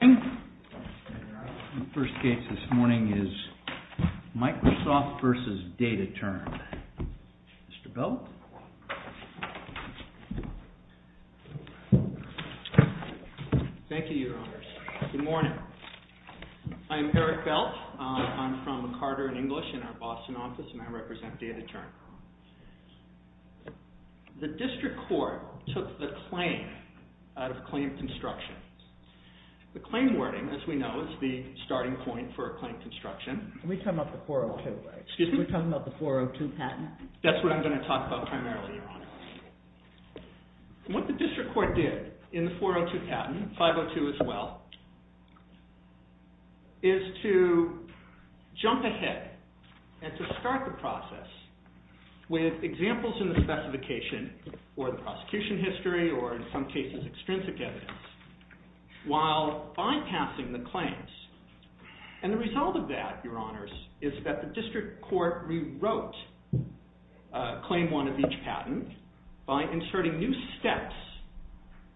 The first case this morning is Microsoft v. DATATERN. Mr. Belk? Thank you, Your Honors. Good morning. I'm Eric Belk. I'm from Carter & English in our Boston office, and I represent DATATERN. The district court took the claim out of claim construction. The claim wording, as we know, is the starting point for a claim construction. We're talking about the 402 patent? That's what I'm going to talk about primarily, Your Honors. What the district court did in the 402 patent, 502 as well, is to jump ahead and to start the process with examples in the specification, or the prosecution history, or in some cases, extrinsic evidence, while bypassing the claims. And the result of that, Your Honors, is that the district court rewrote claim one of each patent by inserting new steps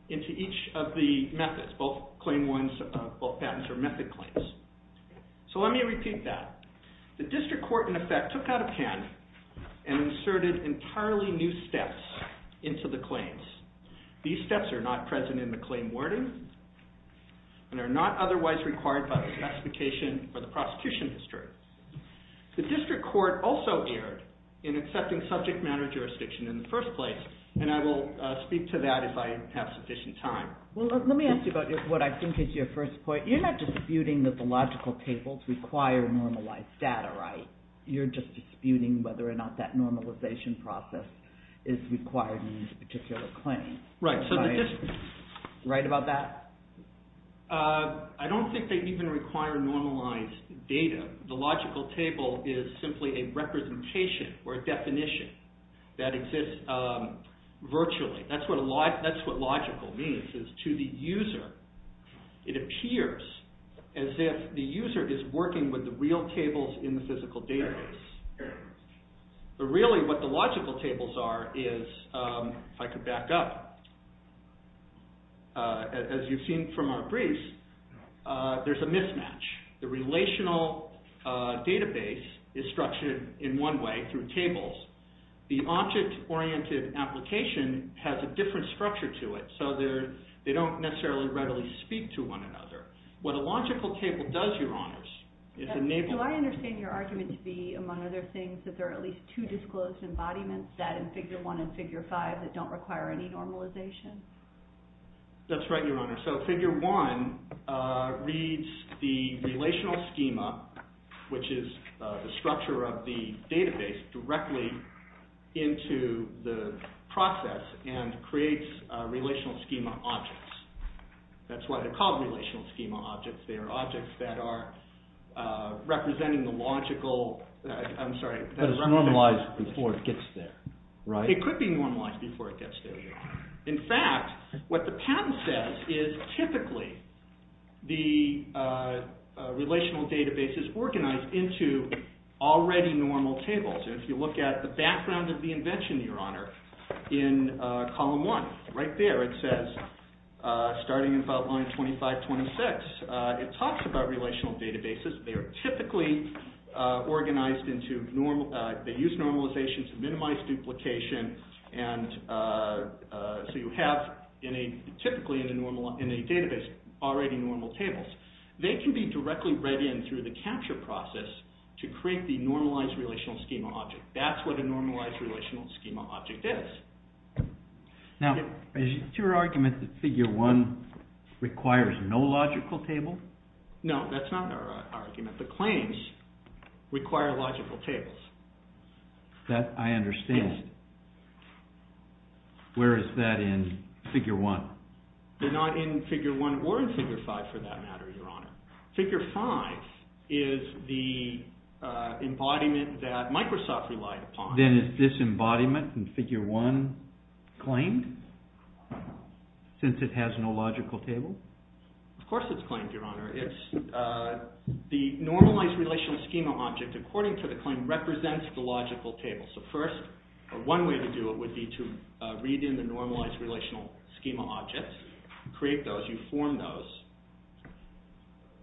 into each of the methods, both patent or method claims. So let me repeat that. The district court, in effect, took out a pen and inserted entirely new steps into the claims. These steps are not present in the claim wording, and are not otherwise required by the specification or the prosecution history. The district court also erred in accepting subject matter jurisdiction in the first place, and I will speak to that if I have sufficient time. Well, let me ask you about what I think is your first point. You're not disputing that the logical tables require normalized data, right? You're just disputing whether or not that normalization process is required in a particular claim. Right. Am I right about that? I don't think they even require normalized data. The logical table is simply a representation or a definition that exists virtually. That's what logical means, is to the user, it appears as if the user is working with the real tables in the physical database. But really what the logical tables are is, if I could back up, as you've seen from our briefs, there's a mismatch. The relational database is structured in one way, through tables. The object-oriented application has a different structure to it, so they don't necessarily readily speak to one another. What a logical table does, Your Honors, is enable... Do I understand your argument to be, among other things, that there are at least two disclosed embodiments, that in Figure 1 and Figure 5, that don't require any normalization? That's right, Your Honor. So, Figure 1 reads the relational schema, which is the structure of the database, directly into the process and creates relational schema objects. That's why they're called relational schema objects. They are objects that are representing the logical... I'm sorry... That is normalized before it gets there, right? It could be normalized before it gets there. In fact, what the patent says is, typically, the relational database is organized into already normal tables. If you look at the background of the invention, Your Honor, in Column 1, right there it says, starting in File Line 2526, it talks about relational databases. They are typically organized into... they use normalizations to minimize duplication, and so you have, typically, in a database, already normal tables. They can be directly read in through the capture process to create the normalized relational schema object. That's what a normalized relational schema object is. Now, is it your argument that Figure 1 requires no logical table? No, that's not our argument. The claims require logical tables. That I understand. Where is that in Figure 1? They're not in Figure 1 or in Figure 5, for that matter, Your Honor. Figure 5 is the embodiment that Microsoft relied upon. Then is this embodiment in Figure 1 claimed, since it has no logical table? Of course it's claimed, Your Honor. The normalized relational schema object, according to the claim, represents the logical table. One way to do it would be to read in the normalized relational schema objects, create those, you form those,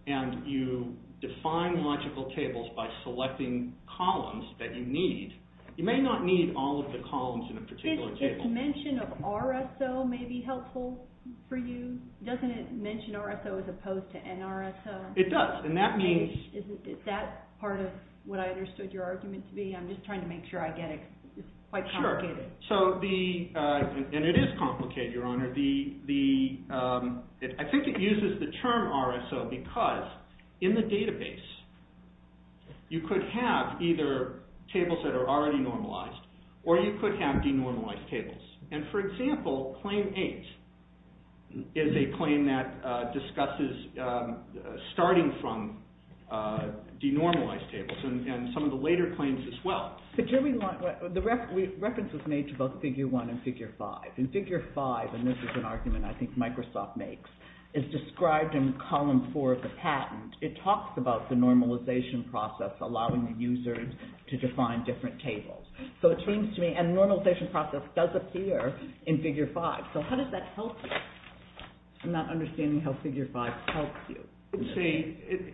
and you define logical tables by selecting columns that you need. You may not need all of the columns in a particular table. Does this mention of RSO may be helpful for you? Doesn't it mention RSO as opposed to NRSO? It does, and that means... Is that part of what I understood your argument to be? I'm just trying to make sure I get it. It's quite complicated. It is complicated, Your Honor. I think it uses the term RSO because in the database you could have either tables that are already normalized or you could have denormalized tables. For example, Claim 8 is a claim that discusses starting from denormalized tables and some of the later claims as well. The reference was made to both Figure 1 and Figure 5. In Figure 5, and this is an argument I think Microsoft makes, it's described in Column 4 of the patent. It talks about the normalization process allowing the user to define different tables. So it seems to me, and the normalization process does appear in Figure 5, so how does that help you? I'm not understanding how Figure 5 helps you. It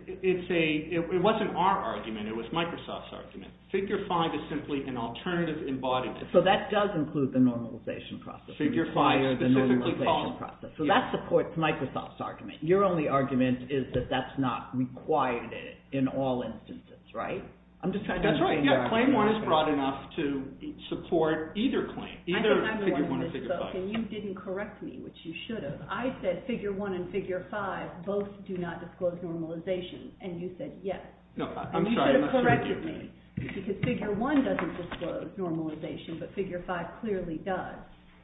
wasn't our argument. It was Microsoft's argument. Figure 5 is simply an alternative embodiment. So that does include the normalization process. Figure 5 is a different column. So that supports Microsoft's argument. Your only argument is that that's not required in all instances, right? That's right. Claim 1 is broad enough to support either claim, either Figure 1 or Figure 5. You didn't correct me, which you should have. I said Figure 1 and Figure 5 both do not disclose normalization, and you said yes. You should have corrected me, because Figure 1 doesn't disclose normalization, but Figure 5 clearly does.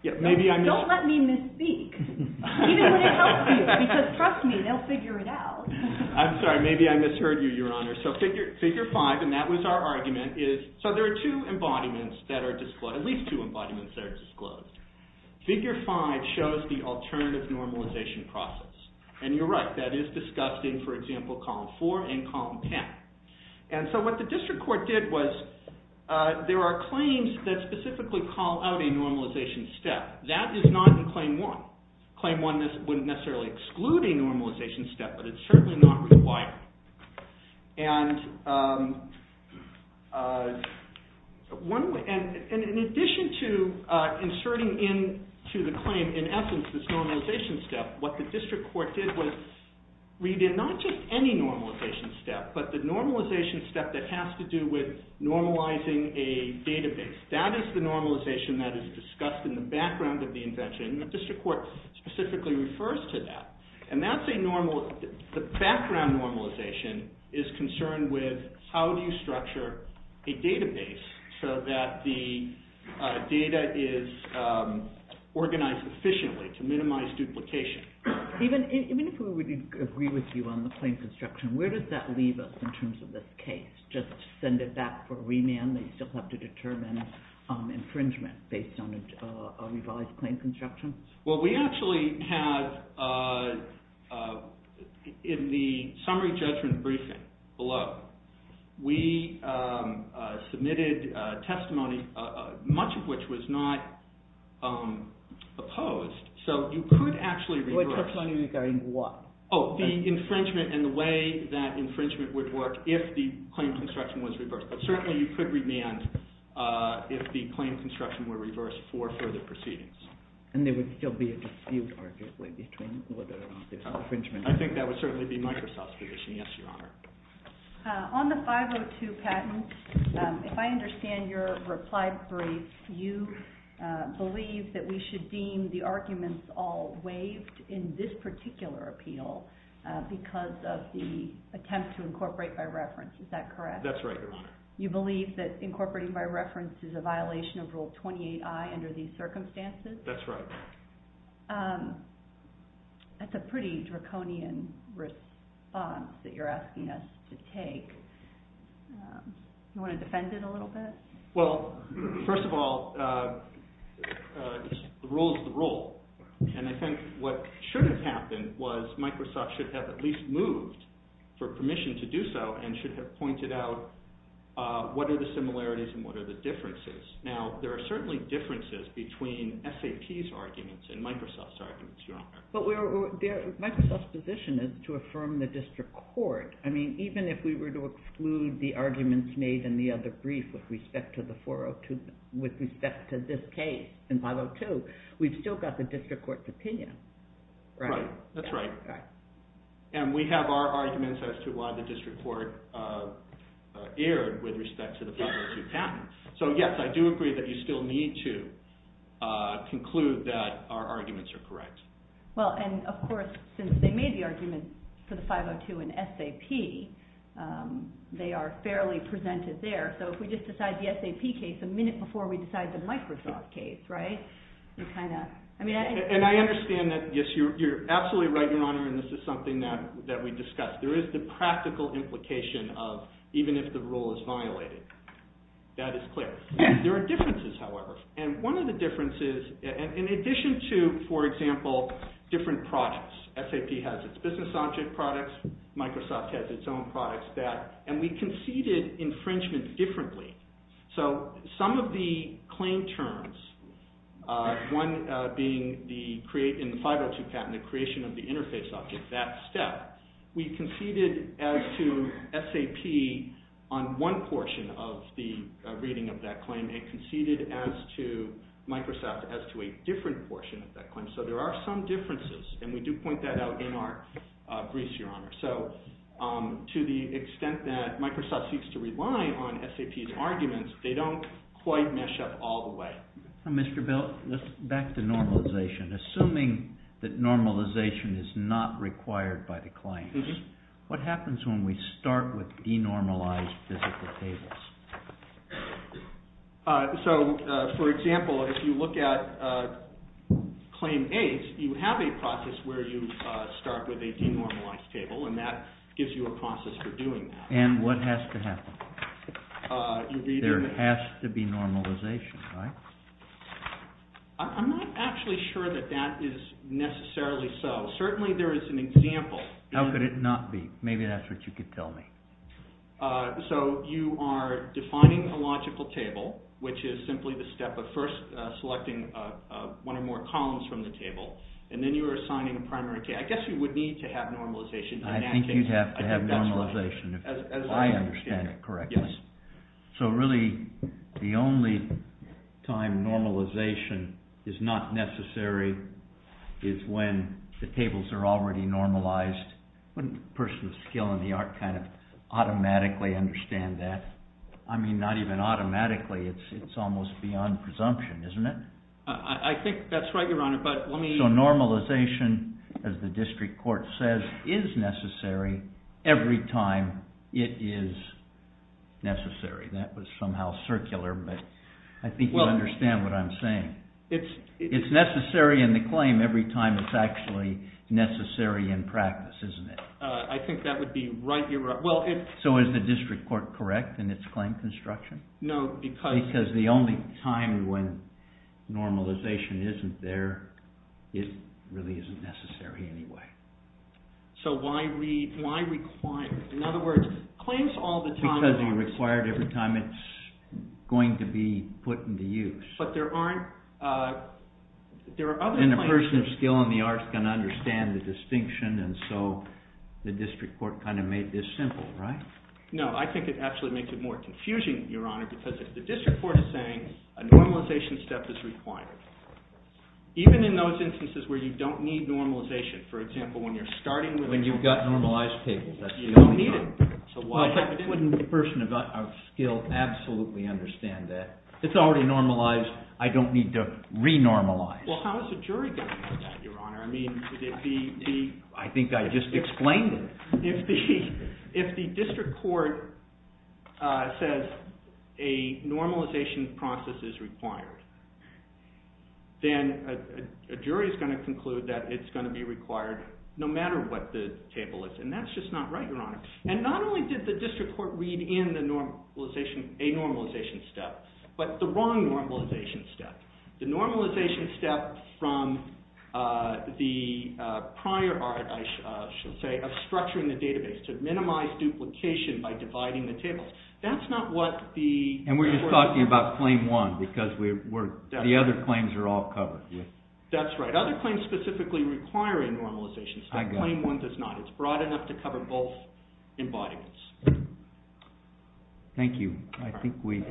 Don't let me misspeak, even when it helps you, because trust me, they'll figure it out. I'm sorry. Maybe I misheard you, Your Honor. So Figure 5, and that was our argument, so there are at least two embodiments that are disclosed. Figure 5 shows the alternative normalization process. And you're right, that is discussed in, for example, Column 4 and Column 10. And so what the district court did was, there are claims that specifically call out a normalization step. That is not in Claim 1. Claim 1 wouldn't necessarily exclude a normalization step, but it's certainly not required. And in addition to inserting into the claim, in essence, this normalization step, what the district court did was, we did not just any normalization step, but the normalization step that has to do with normalizing a database. That is the normalization that is discussed in the background of the invention, and the district court specifically refers to that. And the background normalization is concerned with how do you structure a database so that the data is organized efficiently to minimize duplication. Even if we would agree with you on the claim construction, where does that leave us in terms of this case? Just send it back for remand, and you still have to determine infringement based on a revised claim construction? Well, we actually have, in the summary judgment briefing below, we submitted testimony, much of which was not opposed. So you could actually reverse. We're talking about going what? Oh, the infringement and the way that infringement would work if the claim construction was reversed. But certainly you could remand if the claim construction were reversed for further proceedings. And there would still be a dispute, arguably, between whether or not there's infringement. I think that would certainly be Microsoft's position, yes, Your Honor. On the 502 patent, if I understand your reply brief, you believe that we should deem the arguments all waived in this particular appeal because of the attempt to incorporate by reference, is that correct? That's right, Your Honor. You believe that incorporating by reference is a violation of Rule 28I under these circumstances? That's right. That's a pretty draconian response that you're asking us to take. Do you want to defend it a little bit? Well, first of all, the rule is the rule. And I think what should have happened was Microsoft should have at least moved for permission to do so and should have pointed out what are the similarities and what are the differences. Now, there are certainly differences between SAP's arguments and Microsoft's arguments, Your Honor. But Microsoft's position is to affirm the district court. I mean, even if we were to exclude the arguments made in the other brief with respect to this case in 502, we've still got the district court's opinion. Right, that's right. And we have our arguments as to why the district court erred with respect to the 502 patent. So, yes, I do agree that you still need to conclude that our arguments are correct. Well, and of course, since they made the argument for the 502 in SAP, they are fairly presented there. So if we just decide the SAP case a minute before we decide the Microsoft case, right? And I understand that, yes, you're absolutely right, Your Honor, and this is something that we discussed. There is the practical implication of even if the rule is violated. That is clear. There are differences, however. And one of the differences, in addition to, for example, different products. SAP has its business object products. Microsoft has its own products. And we conceded infringement differently. So some of the claim terms, one being in the 502 patent, the creation of the interface object, that step. We conceded as to SAP on one portion of the reading of that claim. It conceded as to Microsoft as to a different portion of that claim. So there are some differences, and we do point that out in our briefs, Your Honor. So to the extent that Microsoft seeks to rely on SAP's arguments, they don't quite mesh up all the way. Now, Mr. Bell, let's back to normalization. Assuming that normalization is not required by the claims, what happens when we start with denormalized physical tables? So, for example, if you look at Claim 8, you have a process where you start with a denormalized table, and that gives you a process for doing that. And what has to happen? There has to be normalization, right? I'm not actually sure that that is necessarily so. Certainly there is an example. How could it not be? Maybe that's what you could tell me. So you are defining a logical table, which is simply the step of first selecting one or more columns from the table, and then you are assigning a primary case. I guess you would need to have normalization. I think you'd have to have normalization, if I understand it correctly. So really, the only time normalization is not necessary is when the tables are already normalized. Wouldn't a person with skill in the art kind of automatically understand that? I mean, not even automatically. It's almost beyond presumption, isn't it? I think that's right, Your Honor. So normalization, as the district court says, is necessary every time it is necessary. That was somehow circular, but I think you understand what I'm saying. It's necessary in the claim every time it's actually necessary in practice, isn't it? I think that would be right, Your Honor. So is the district court correct in its claim construction? Because the only time when normalization isn't there, it really isn't necessary anyway. Because you require it every time it's going to be put into use. And a person with skill in the art is going to understand the distinction, and so the district court kind of made this simple, right? No, I think it actually makes it more confusing, Your Honor, because the district court is saying a normalization step is required. Even in those instances where you don't need normalization, for example, when you're starting with normalization. When you've got normalized tables, that's the only time. You don't need it. But wouldn't a person of skill absolutely understand that? It's already normalized. I don't need to re-normalize. Well, how is a jury going to know that, Your Honor? I think I just explained it. If the district court says a normalization process is required, then a jury is going to conclude that it's going to be required no matter what the table is. And that's just not right, Your Honor. And not only did the district court read in a normalization step, but the wrong normalization step. The normalization step from the prior art, I should say, of structuring the database to minimize duplication by dividing the tables. That's not what the... And we're just talking about claim one because the other claims are all covered. That's right. Other claims specifically require a normalization step. Claim one does not. It's broad enough to cover both embodiments. Thank you. I think we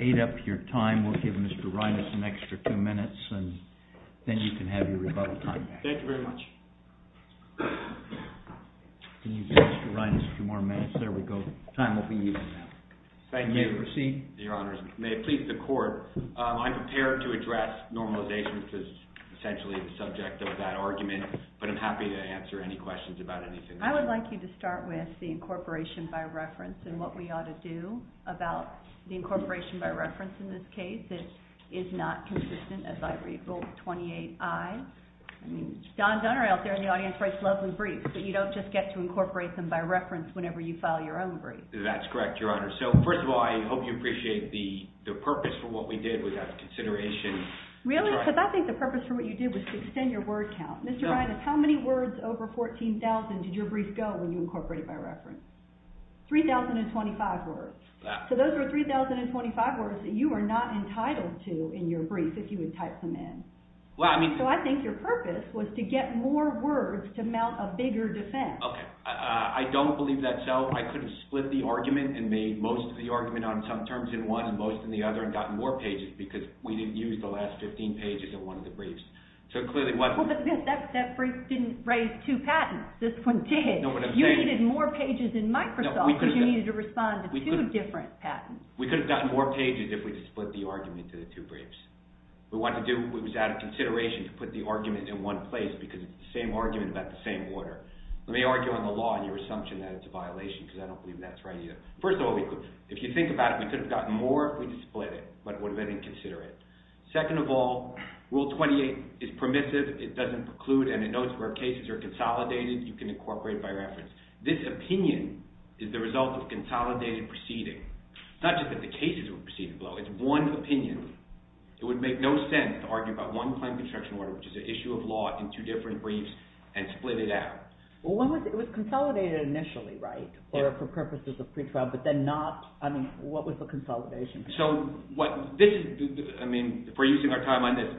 ate up your time. We'll give Mr. Rinas an extra two minutes and then you can have your rebuttal time back. Thank you very much. We'll give Mr. Rinas two more minutes. There we go. Time will be even now. Thank you. You may proceed. Your Honor, may it please the court, I'm prepared to address normalization because it's essentially the subject of that argument. But I'm happy to answer any questions about anything. I would like you to start with the incorporation by reference and what we ought to do about the incorporation by reference in this case. It is not consistent, as I read, both 28I. Don Dunner out there in the audience writes lovely briefs, but you don't just get to incorporate them by reference whenever you file your own brief. That's correct, Your Honor. So, first of all, I hope you appreciate the purpose for what we did without consideration. Really? Because I think the purpose for what you did was to extend your word count. Mr. Rinas, how many words over 14,000 did your brief go when you incorporated by reference? 3,025 words. So those are 3,025 words that you are not entitled to in your brief if you would type them in. So I think your purpose was to get more words to mount a bigger defense. Okay. I don't believe that's so. I could have split the argument and made most of the argument on some terms in one and most in the other and gotten more pages because we didn't use the last 15 pages in one of the briefs. But that brief didn't raise two patents. This one did. You needed more pages in Microsoft because you needed to respond to two different patents. We could have gotten more pages if we had split the argument into the two briefs. We wanted to do – it was out of consideration to put the argument in one place because it's the same argument about the same order. Let me argue on the law on your assumption that it's a violation because I don't believe that's right either. First of all, if you think about it, we could have gotten more if we had split it, but what if I didn't consider it? Second of all, Rule 28 is permissive. It doesn't preclude, and it notes where cases are consolidated. You can incorporate it by reference. This opinion is the result of consolidated proceeding. It's not just that the cases were proceeding below. It's one opinion. It would make no sense to argue about one claim construction order, which is an issue of law, in two different briefs and split it out. Well, it was consolidated initially, right, for purposes of pretrial, but then not – I mean what was the consolidation? So what – this is – I mean if we're using our time on this,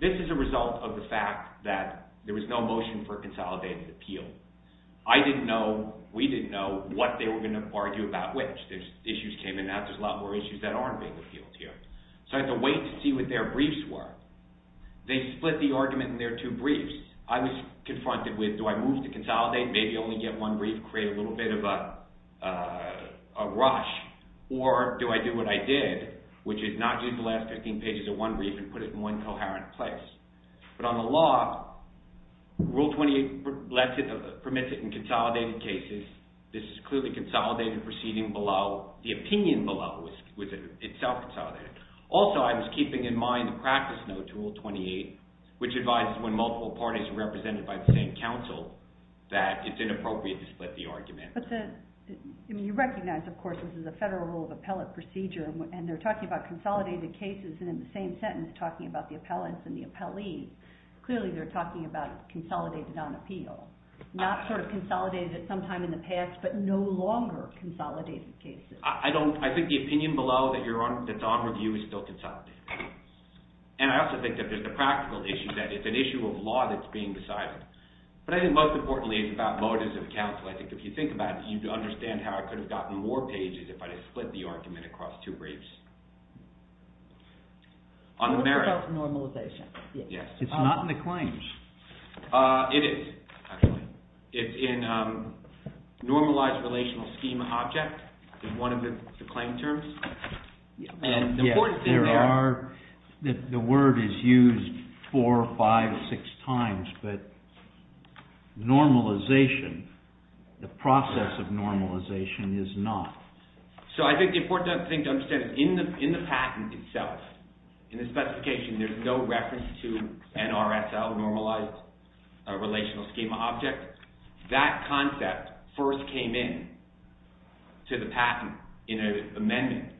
this is a result of the fact that there was no motion for a consolidated appeal. I didn't know – we didn't know what they were going to argue about which. Issues came in and out. There's a lot more issues that aren't being appealed here. So I had to wait to see what their briefs were. They split the argument in their two briefs. I was confronted with do I move to consolidate, maybe only get one brief, create a little bit of a rush, or do I do what I did, which is not use the last 15 pages of one brief and put it in one coherent place. But on the law, Rule 28 permits it in consolidated cases. This is clearly consolidated proceeding below. The opinion below was itself consolidated. Also, I was keeping in mind the practice note to Rule 28, which advises when multiple parties are represented by the same counsel that it's inappropriate to split the argument. But you recognize, of course, this is a federal rule of appellate procedure, and they're talking about consolidated cases, and in the same sentence talking about the appellants and the appellees, clearly they're talking about consolidated on appeal. Not sort of consolidated at some time in the past, but no longer consolidated cases. I think the opinion below that's on review is still consolidated. And I also think that there's the practical issue that it's an issue of law that's being decided. But I think most importantly it's about motives of counsel. I think if you think about it, you'd understand how I could have gotten more pages if I had split the argument across two briefs. On the merits. It's not in the claims. It is, actually. It's in normalized relational scheme object in one of the claim terms. The word is used four, five, six times, but normalization, the process of normalization is not. So I think the important thing to understand is in the patent itself, in the specification, there's no reference to NRSL normalized relational scheme object. That concept first came in to the patent in an amendment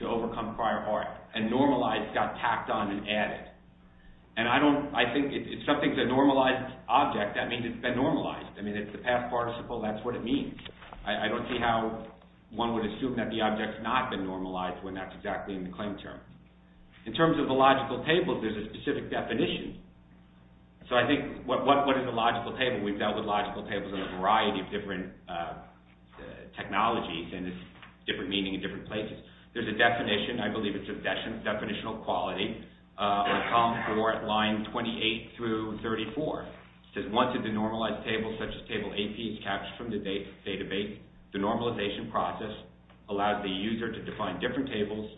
to overcome prior art. And normalized got tacked on and added. And I think if something's a normalized object, that means it's been normalized. I mean, it's the past participle. That's what it means. I don't see how one would assume that the object's not been normalized when that's exactly in the claim term. In terms of the logical table, there's a specific definition. So I think what is a logical table? We've dealt with logical tables in a variety of different technologies and it's different meaning in different places. There's a definition. I believe it's a definitional quality on column four at line 28 through 34. It says once a denormalized table such as table AP is captured from the database, the normalization process allows the user to define different tables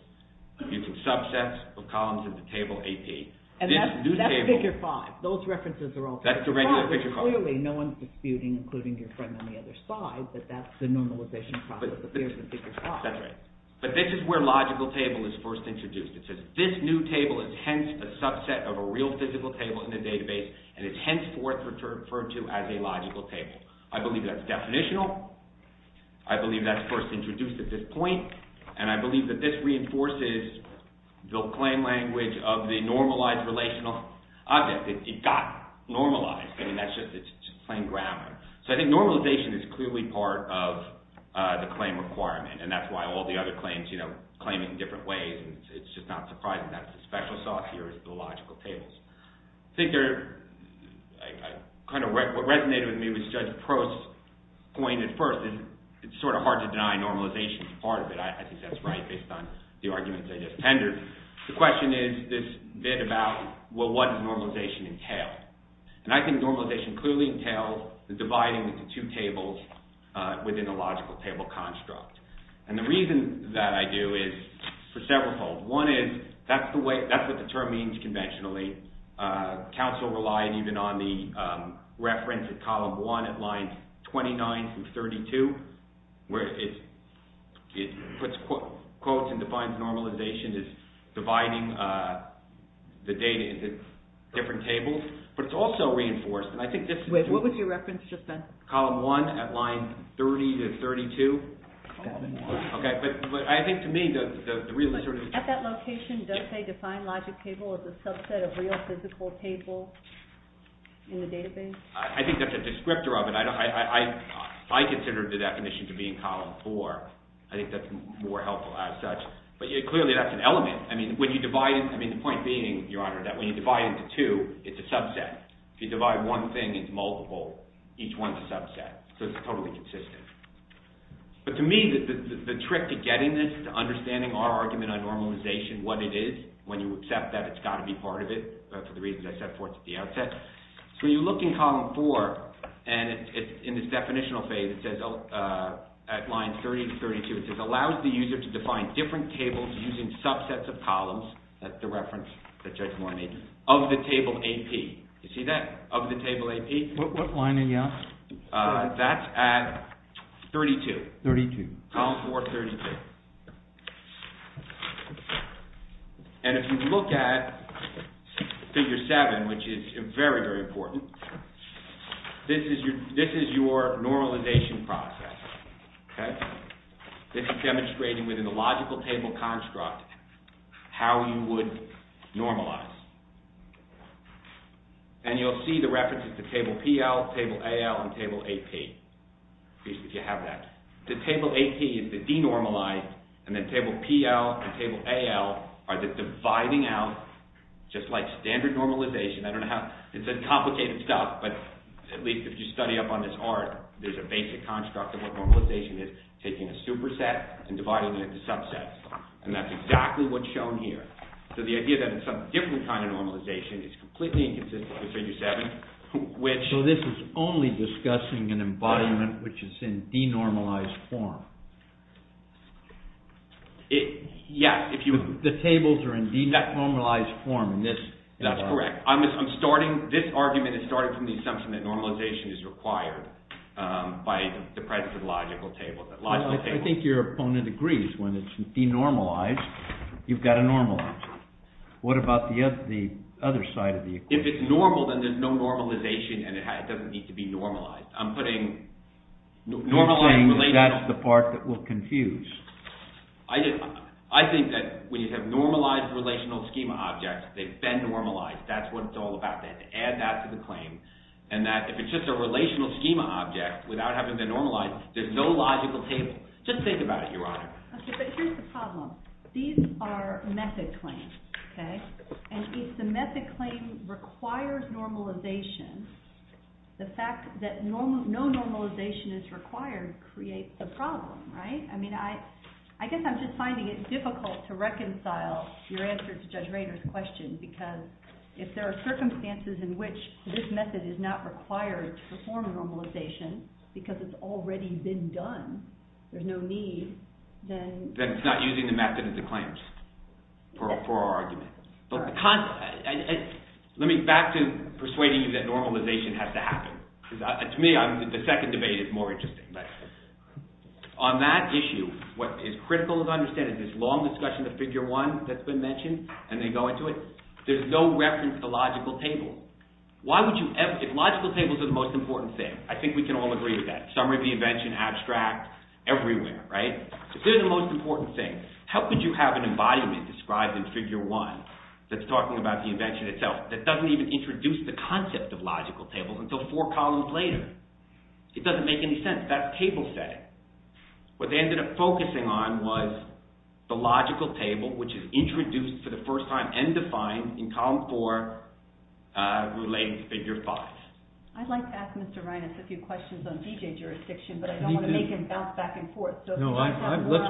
using subsets of columns in the table AP. And that's figure five. Those references are all figure five. Clearly no one's disputing, including your friend on the other side, that that's the normalization process. But this is where logical table is first introduced. It says this new table is hence a subset of a real physical table in the database and is henceforth referred to as a logical table. I believe that's definitional. I believe that's first introduced at this point. And I believe that this reinforces the claim language of the normalized relational object. It got normalized. It's just plain grammar. So I think normalization is clearly part of the claim requirement and that's why all the other claims claim it in different ways. It's just not surprising that the special sauce here is the logical tables. I think what resonated with me was Judge Prost's point at first. It's sort of hard to deny normalization is part of it. I think that's right based on the arguments I just tendered. The question is this bit about, well, what does normalization entail? And I think normalization clearly entails the dividing of the two tables within a logical table construct. And the reason that I do is for several reasons. One is that's what the term means conventionally. Council relied even on the reference at column one at lines 29 through 32. Where it puts quotes and defines normalization as dividing the data into different tables. But it's also reinforced, and I think this is... Wait, what was your reference just then? Column one at line 30 to 32. Okay, but I think to me the real sort of... At that location, does they define logic table as a subset of real physical table in the database? I think that's a descriptor of it. I consider the definition to be in column four. I think that's more helpful as such. But clearly that's an element. I mean, when you divide... I mean, the point being, Your Honor, that when you divide into two, it's a subset. If you divide one thing, it's multiple. Each one's a subset. So it's totally consistent. But to me, the trick to getting this, to understanding our argument on normalization, what it is, when you accept that it's got to be part of it, for the reasons I set forth at the outset. So you look in column four, and in this definitional phase, it says at line 30 to 32, it says allows the user to define different tables using subsets of columns. That's the reference that Judge Moore made. Of the table AP. You see that? Of the table AP. What line are you on? That's at 32. 32. Column four, 32. And if you look at figure seven, which is very, very important, this is your normalization process. This is demonstrating within the logical table construct how you would normalize. And you'll see the references to table PL, table AL, and table AP. At least if you have that. The table AP is the denormalized, and then table PL and table AL are the dividing out, just like standard normalization, I don't know how, it's a complicated stuff, but at least if you study up on this art, there's a basic construct of what normalization is, taking a superset and dividing it into subsets. And that's exactly what's shown here. So the idea that it's a different kind of normalization is completely inconsistent with figure seven, which... So this is only discussing an embodiment which is in denormalized form. Yes, if you... The tables are in denormalized form in this... That's correct. I'm starting, this argument is starting from the assumption that normalization is required by the presence of logical tables. I think your opponent agrees. When it's denormalized, you've got to normalize it. What about the other side of the equation? If it's normal, then there's no normalization and it doesn't need to be normalized. I'm putting... You're saying that's the part that will confuse. I think that when you have normalized relational schema objects, they've been normalized. That's what it's all about. They had to add that to the claim, and that if it's just a relational schema object, without having been normalized, there's no logical table. Just think about it, Your Honor. Okay, but here's the problem. These are method claims, okay? And if the method claim requires normalization, the fact that no normalization is required creates a problem, right? I mean, I guess I'm just finding it difficult to reconcile your answer to Judge Rader's question, because if there are circumstances in which this method is not required to perform normalization because it's already been done, there's no need, then... Then it's not using the method as a claim for our argument. Let me back to persuading you that normalization has to happen. To me, the second debate is more interesting. On that issue, what is critical to understand is this long discussion of Figure 1 that's been mentioned, and they go into it, there's no reference to logical table. Logical tables are the most important thing. I think we can all agree on that. Summary of the invention, abstract, everywhere, right? They're the most important thing. How could you have an embodiment described in Figure 1 that's talking about the invention itself that doesn't even introduce the concept of logical tables until four columns later? It doesn't make any sense. That's table setting. What they ended up focusing on was the logical table, which is introduced for the first time and defined in Column 4, related to Figure 5. I'd like to ask Mr. Reines a few questions on DJ jurisdiction, but I don't want to make him bounce back and forth. Let's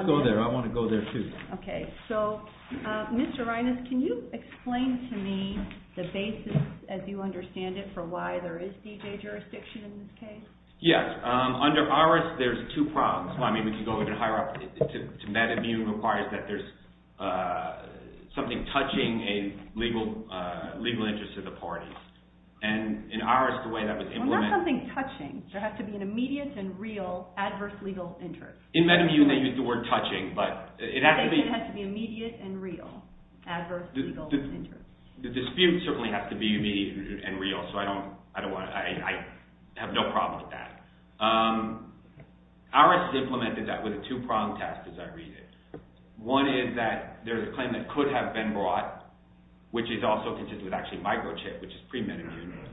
go there. I want to go there, too. Mr. Reines, can you explain to me the basis, as you understand it, for why there is DJ jurisdiction in this case? Yes. Under IRIS, there's two problems. We can go even higher up. MetaView requires that there's something touching a legal interest of the party. In IRIS, the way that was implemented... Well, not something touching. There has to be an immediate and real adverse legal interest. In MetaView, they use the word touching, but it has to be... I think it has to be immediate and real adverse legal interest. The dispute certainly has to be immediate and real, so I have no problem with that. IRIS implemented that with a two-pronged test, as I read it. One is that there's a claim that could have been brought, which is also consistent with microchip, which is pre-metaView.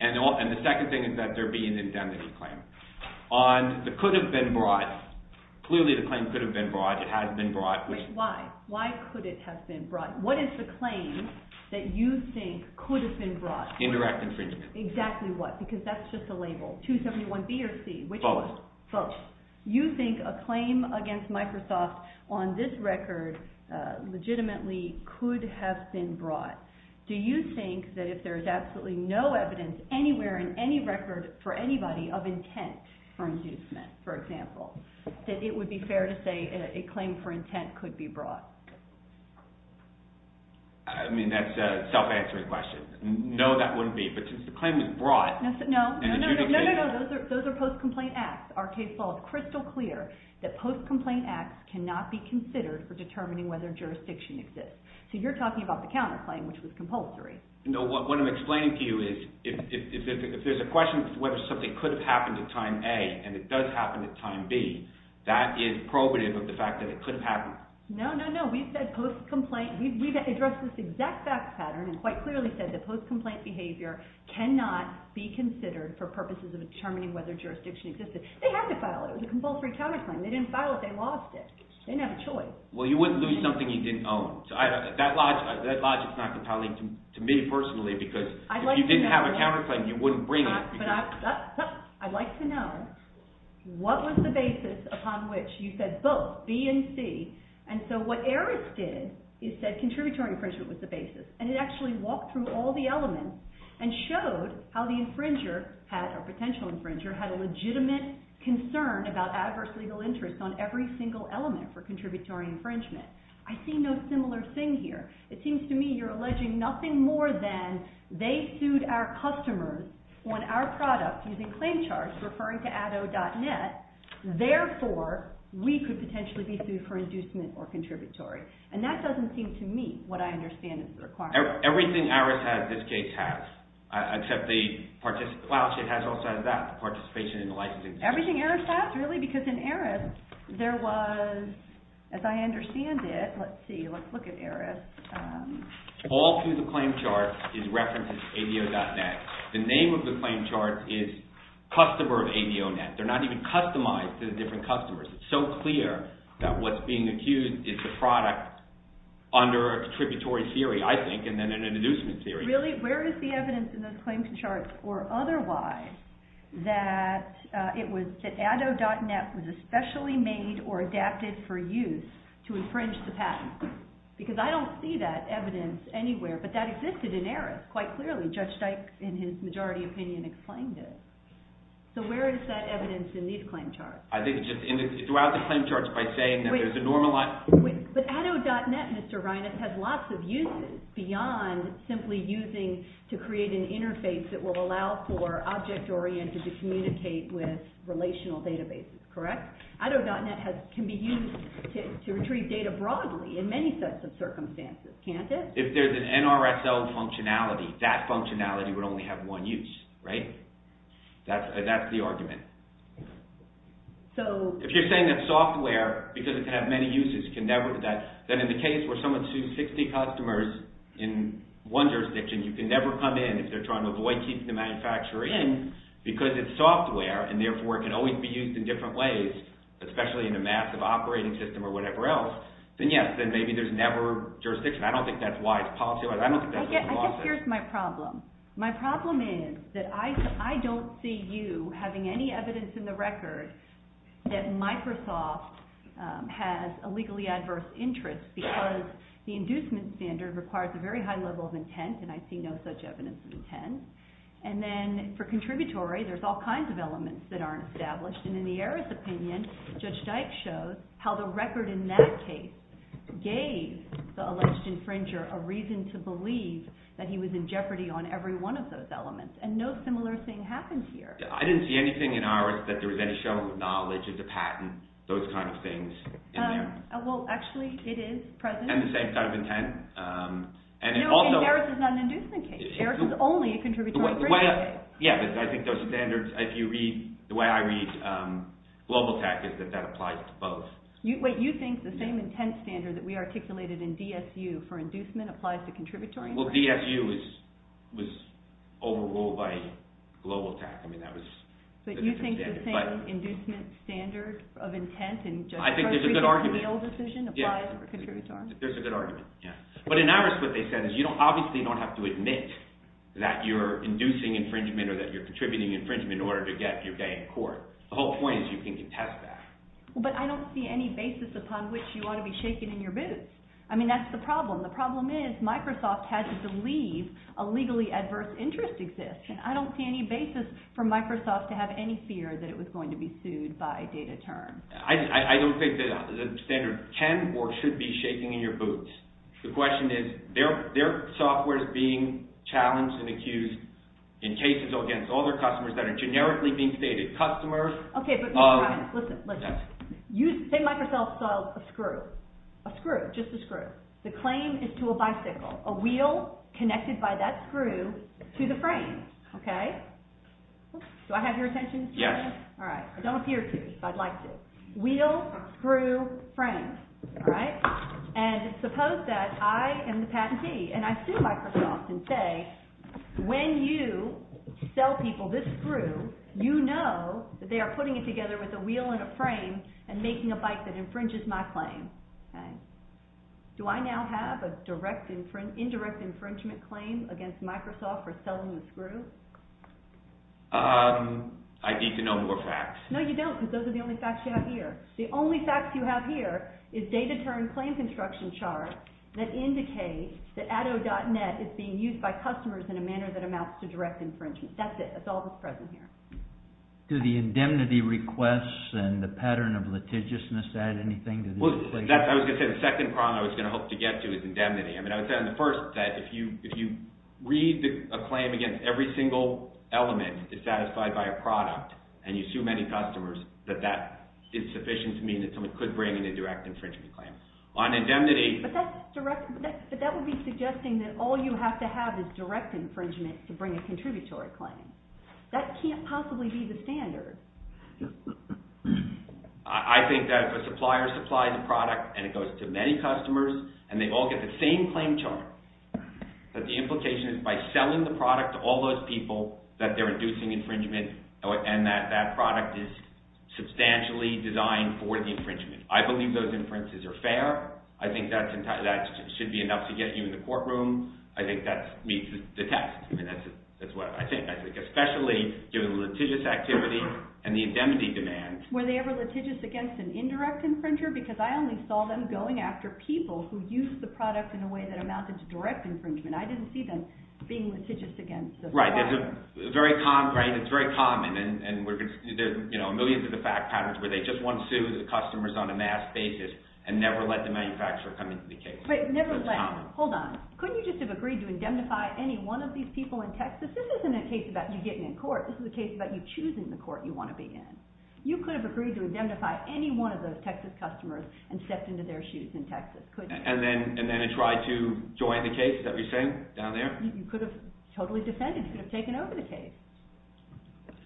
The second thing is that there be an indemnity claim. On the could have been brought, clearly the claim could have been brought. Why? Why could it have been brought? What is the claim that you think could have been brought? Indirect infringement. Exactly what? Because that's just a label. 271B or C. Both. Both. You think a claim against Microsoft on this record legitimately could have been brought. Do you think that if there's absolutely no evidence anywhere in any record for anybody of intent for inducement, for example, that it would be fair to say a claim for intent could be brought? I mean, that's a self-answering question. No, that wouldn't be. But since the claim is brought, and the judicature... No, no, no. Those are post-complaint acts. Our case law is crystal clear that post-complaint acts cannot be considered for determining whether jurisdiction exists. So you're talking about the counterclaim, which was compulsory. No, what I'm explaining to you is if there's a question whether something could have happened at time A and it does happen at time B, that is probative of the fact that it could have happened. No, no, no. We've addressed this exact fact pattern and quite clearly said that post-complaint behavior cannot be considered for purposes of determining whether jurisdiction exists. They had to file it. It was a compulsory counterclaim. They didn't file it. They lost it. They didn't have a choice. Well, you wouldn't lose something you didn't own. That logic is not compelling to me personally because if you didn't have a counterclaim, you wouldn't bring it. I'd like to know what was the basis upon which you said both B and C. And so what Eris did is said contributory infringement was the basis. And it actually walked through all the elements and showed how the infringer had, or potential infringer, had a legitimate concern about adverse legal interest on every single element for contributory infringement. I see no similar thing here. It seems to me you're alleging nothing more than they sued our customers on our product using claim charge, referring to addo.net. Therefore, we could potentially be sued for inducement or contributory. And that doesn't seem to meet what I understand is the requirement. Everything Eris has, this case has, except the participation. Well, it has all sides of that, the participation and the licensing. Everything Eris has, really? Because in Eris, there was, as I understand it, let's see, let's look at Eris. All through the claim charge is reference to ADO.net. The name of the claim charge is customer of ADO.net. They're not even customized to the different customers. It's so clear that what's being accused is the product under a contributory theory, I think, and then an inducement theory. But really, where is the evidence in those claim charge or otherwise that it was that ADO.net was especially made or adapted for use to infringe the patent? Because I don't see that evidence anywhere, but that existed in Eris quite clearly. Judge Dykes, in his majority opinion, explained it. So where is that evidence in these claim charge? I think it's just throughout the claim charge by saying that there's a normalizing. But ADO.net, Mr. Reines, has lots of uses beyond simply using to create an interface that will allow for object-oriented to communicate with relational databases, correct? ADO.net can be used to retrieve data broadly in many sets of circumstances, can't it? If there's an NRSL functionality, that functionality would only have one use, right? That's the argument. If you're saying that software, because it can have many uses, can never do that, then in the case where someone sued 60 customers in one jurisdiction, you can never come in if they're trying to avoid keeping the manufacturer in, because it's software and therefore it can always be used in different ways, especially in a massive operating system or whatever else, then yes, then maybe there's never jurisdiction. I don't think that's why it's policy-wise. I guess here's my problem. My problem is that I don't see you having any evidence in the record that Microsoft has a legally adverse interest because the inducement standard requires a very high level of intent, and I see no such evidence of intent. And then for contributory, there's all kinds of elements that aren't established. And in the heiress' opinion, Judge Dyke shows how the record in that case gave the alleged infringer a reason to believe that he was in jeopardy on every one of those elements, and no similar thing happened here. I didn't see anything in heiress' that there was any show of knowledge as a patent, those kind of things in there. Well, actually, it is present. And the same kind of intent. No, I mean heiress' is not an inducement case. Heiress' is only a contributory infringement case. Yeah, but I think those standards, if you read, the way I read GlobalTAC is that that applies to both. Wait, you think the same intent standard that we articulated in DSU for inducement applies to contributory? Well, DSU was overruled by GlobalTAC. I mean, that was a different standard. But you think the same inducement standard of intent in Judge Dyke's recent appeal decision applies for contributory? There's a good argument, yeah. But in heiress' what they said is you obviously don't have to admit that you're inducing infringement or that you're contributing infringement in order to get your guy in court. The whole point is you can contest that. But I don't see any basis upon which you ought to be shaking in your boots. I mean, that's the problem. The problem is Microsoft has to believe a legally adverse interest exists, and I don't see any basis for Microsoft to have any fear that it was going to be sued by DataTurn. I don't think the standard can or should be shaking in your boots. The question is their software is being challenged and accused in cases against all their customers that are generically being stated customers. Okay, but listen. Say Microsoft sells a screw, a screw, just a screw. The claim is to a bicycle, a wheel connected by that screw to the frame. Okay? Do I have your attention? Yes. All right. I don't know if you're curious, but I'd like to. Wheel, screw, frame. All right? And suppose that I am the patentee, and I sue Microsoft and say, when you sell people this screw, you know that they are putting it together with a wheel and a frame and making a bike that infringes my claim. Okay? Do I now have an indirect infringement claim against Microsoft for selling the screw? I need to know more facts. No, you don't, because those are the only facts you have here. The only facts you have here is data-turned claim construction charts that indicate that addo.net is being used by customers in a manner that amounts to direct infringement. That's it. That's all that's present here. Do the indemnity requests and the pattern of litigiousness add anything to this? I was going to say the second problem I was going to hope to get to is indemnity. I mean, I would say on the first that if you read a claim against every single element is satisfied by a product, and you sue many customers, that that is sufficient to mean that someone could bring in a direct infringement claim. But that would be suggesting that all you have to have is direct infringement to bring a contributory claim. That can't possibly be the standard. I think that if a supplier supplies a product, and it goes to many customers, and they all get the same claim chart, that the implication is by selling the product to all those people that they're inducing infringement, and that that product is substantially designed for the infringement. I believe those inferences are fair. I think that should be enough to get you in the courtroom. I think that meets the test. I mean, that's what I think. Especially given the litigious activity and the indemnity demand. Were they ever litigious against an indirect infringer? Because I only saw them going after people who used the product in a way that amounted to direct infringement. I didn't see them being litigious against the supplier. Right. It's very common. And there are millions of the fact patterns where they just want to sue the customers on a mass basis and never let the manufacturer come into the case. Never let. Hold on. Couldn't you just have agreed to indemnify any one of these people in Texas? This isn't a case about you getting in court. This is a case about you choosing the court you want to be in. You could have agreed to indemnify any one of those Texas customers and stepped into their shoes in Texas. Couldn't you? And then try to join the case that we sent down there? You could have totally defended it. You could have taken over the case.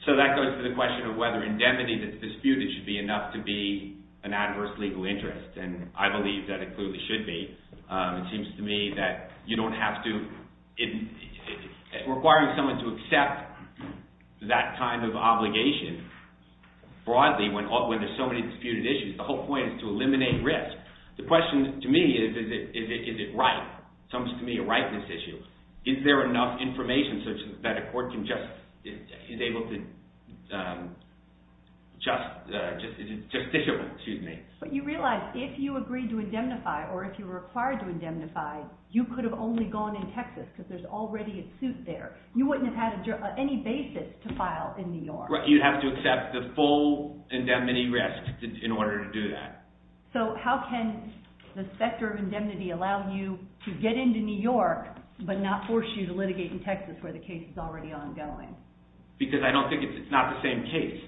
So that goes to the question of whether indemnity that's disputed should be enough to be an adverse legal interest. And I believe that it clearly should be. It seems to me that you don't have to – requiring someone to accept that kind of obligation broadly when there's so many disputed issues. The whole point is to eliminate risk. The question to me is, is it right? It comes to me a rightness issue. Is there enough information such that a court can just – is able to just – is it justiciable? But you realize if you agreed to indemnify or if you were required to indemnify, you could have only gone in Texas because there's already a suit there. You wouldn't have had any basis to file in New York. You'd have to accept the full indemnity risk in order to do that. So how can the sector of indemnity allow you to get into New York but not force you to litigate in Texas where the case is already ongoing? Because I don't think it's – it's not the same case.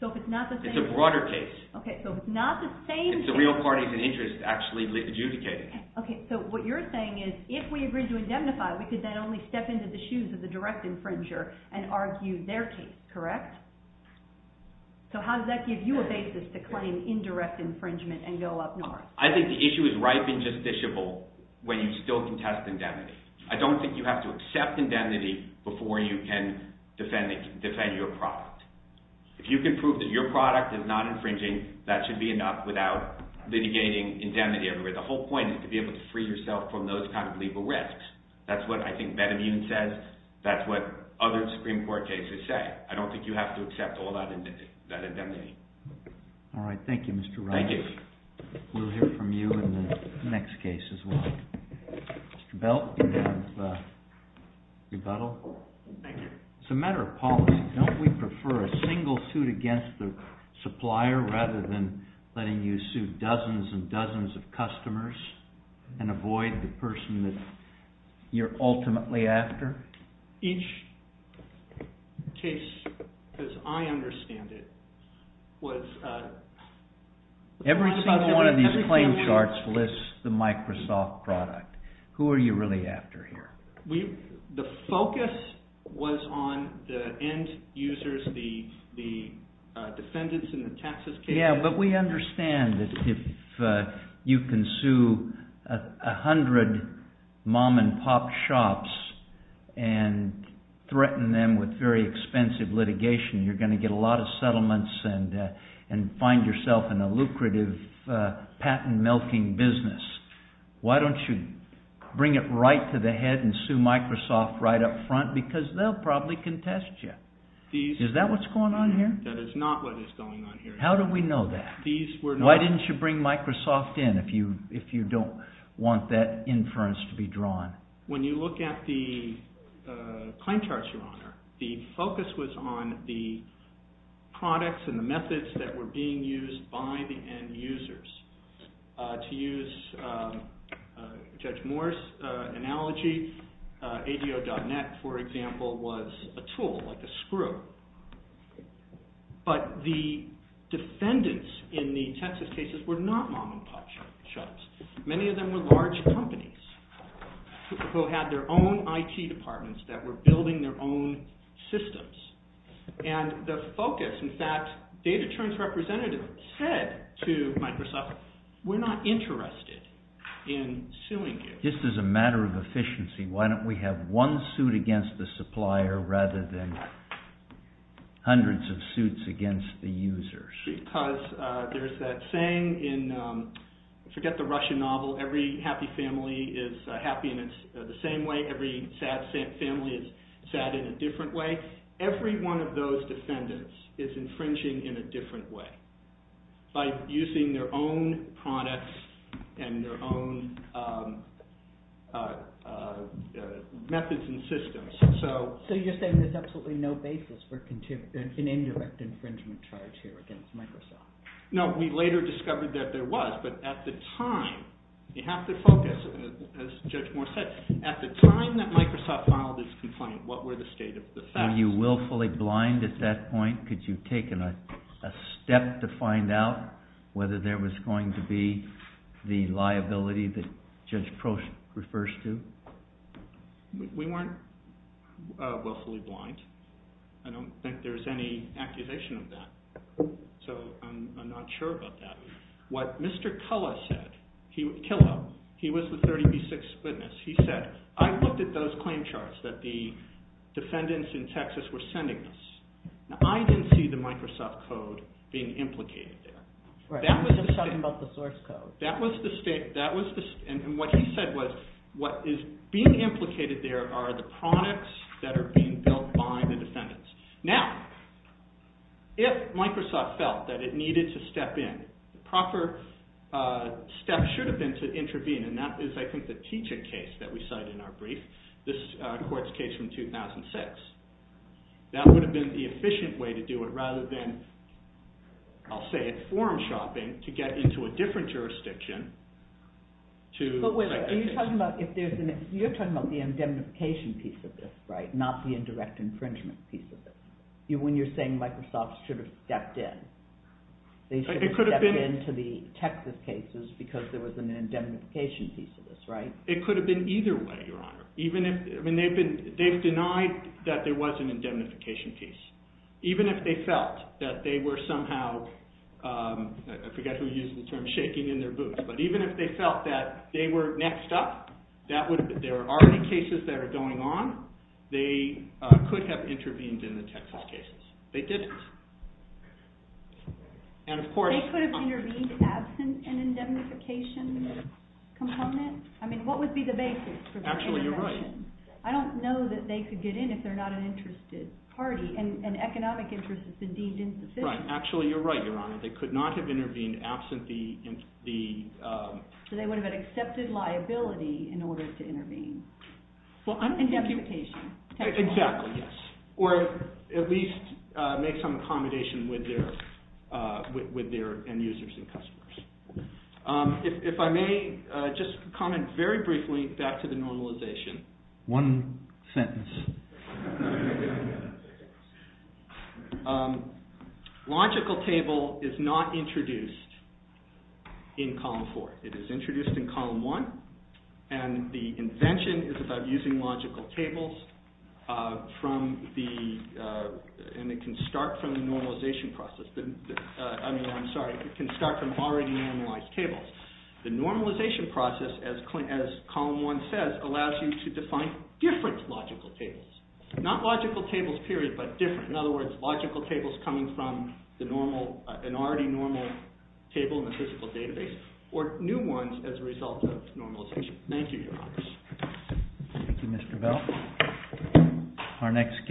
So if it's not the same – It's a broader case. Okay. So if it's not the same case – It's the real parties and interests actually litigating. Okay. So what you're saying is if we agreed to indemnify, we could then only step into the shoes of the direct infringer and argue their case, correct? So how does that give you a basis to claim indirect infringement and go up north? I think the issue is ripe and justiciable when you still can test indemnity. I don't think you have to accept indemnity before you can defend your profit. If you can prove that your product is not infringing, that should be enough without litigating indemnity everywhere. The whole point is to be able to free yourself from those kind of legal risks. That's what I think Benemune says. That's what other Supreme Court cases say. I don't think you have to accept all that indemnity. All right. Thank you, Mr. Rice. Thank you. We'll hear from you in the next case as well. Mr. Belt, you have rebuttal. Thank you. It's a matter of policy. Don't we prefer a single suit against the supplier rather than letting you sue dozens and dozens of customers and avoid the person that you're ultimately after? Each case, as I understand it, was— Every single one of these claim charts lists the Microsoft product. Who are you really after here? The focus was on the end users, the defendants in the taxes case. Yeah, but we understand that if you can sue a hundred mom-and-pop shops and threaten them with very expensive litigation, you're going to get a lot of settlements and find yourself in a lucrative patent-milking business. Why don't you bring it right to the head and sue Microsoft right up front? Because they'll probably contest you. Is that what's going on here? That is not what is going on here. How do we know that? Why didn't you bring Microsoft in if you don't want that inference to be drawn? When you look at the claim charts, Your Honor, the focus was on the products and the methods that were being used by the end users To use Judge Morris' analogy, ADO.net, for example, was a tool, like a screw. But the defendants in the Texas cases were not mom-and-pop shops. Many of them were large companies who had their own IT departments that were building their own systems. And the focus, in fact, Data Terms Representative said to Microsoft, we're not interested in suing you. Just as a matter of efficiency, why don't we have one suit against the supplier rather than hundreds of suits against the users? Because there's that saying in, forget the Russian novel, every happy family is happy in the same way. Every sad family is sad in a different way. Every one of those defendants is infringing in a different way by using their own products and their own methods and systems. So you're saying there's absolutely no basis for an indirect infringement charge here against Microsoft? No, we later discovered that there was, but at the time, you have to focus, as Judge Morris said, at the time that Microsoft filed its complaint, what were the state of the facts? Were you willfully blind at that point? Could you have taken a step to find out whether there was going to be the liability that Judge Proch refers to? We weren't willfully blind. I don't think there's any accusation of that, so I'm not sure about that. What Mr. Killa said, he was the 30B6 witness, he said, I looked at those claim charts that the defendants in Texas were sending us. Now I didn't see the Microsoft code being implicated there. I'm just talking about the source code. That was the state, and what he said was, what is being implicated there are the products that are being built by the defendants. Now, if Microsoft felt that it needed to step in, the proper step should have been to intervene, and that is I think the teaching case that we cite in our brief, this court's case from 2006. That would have been the efficient way to do it rather than, I'll say it, forum shopping to get into a different jurisdiction. But wait a minute, you're talking about the indemnification piece of this, right? Not the indirect infringement piece of this. When you're saying Microsoft should have stepped in, they should have stepped in to the Texas cases because there was an indemnification piece of this, right? It could have been either way, Your Honor. They've denied that there was an indemnification piece. Even if they felt that they were somehow, I forget who used the term, shaking in their boots. But even if they felt that they were next up, there are cases that are going on, they could have intervened in the Texas cases. They didn't. They could have intervened as an indemnification component? I mean, what would be the basis? Actually, you're right. I don't know that they could get in if they're not an interested party. And economic interest is indeed insufficient. Right. Actually, you're right, Your Honor. They could not have intervened absent the... So they would have had accepted liability in order to intervene. Indemnification. Exactly, yes. Or at least make some accommodation with their end users and customers. If I may just comment very briefly back to the normalization. One sentence. Logical table is not introduced in Column 4. It is introduced in Column 1. And the invention is about using logical tables from the... And it can start from the normalization process. I mean, I'm sorry, it can start from already normalized tables. The normalization process, as Column 1 says, allows you to define different logical tables. Not logical tables, period, but different. In other words, logical tables coming from an already normal table in the physical database. Or new ones as a result of normalization. Thank you, Your Honor. Thank you, Mr. Bell. Our next case.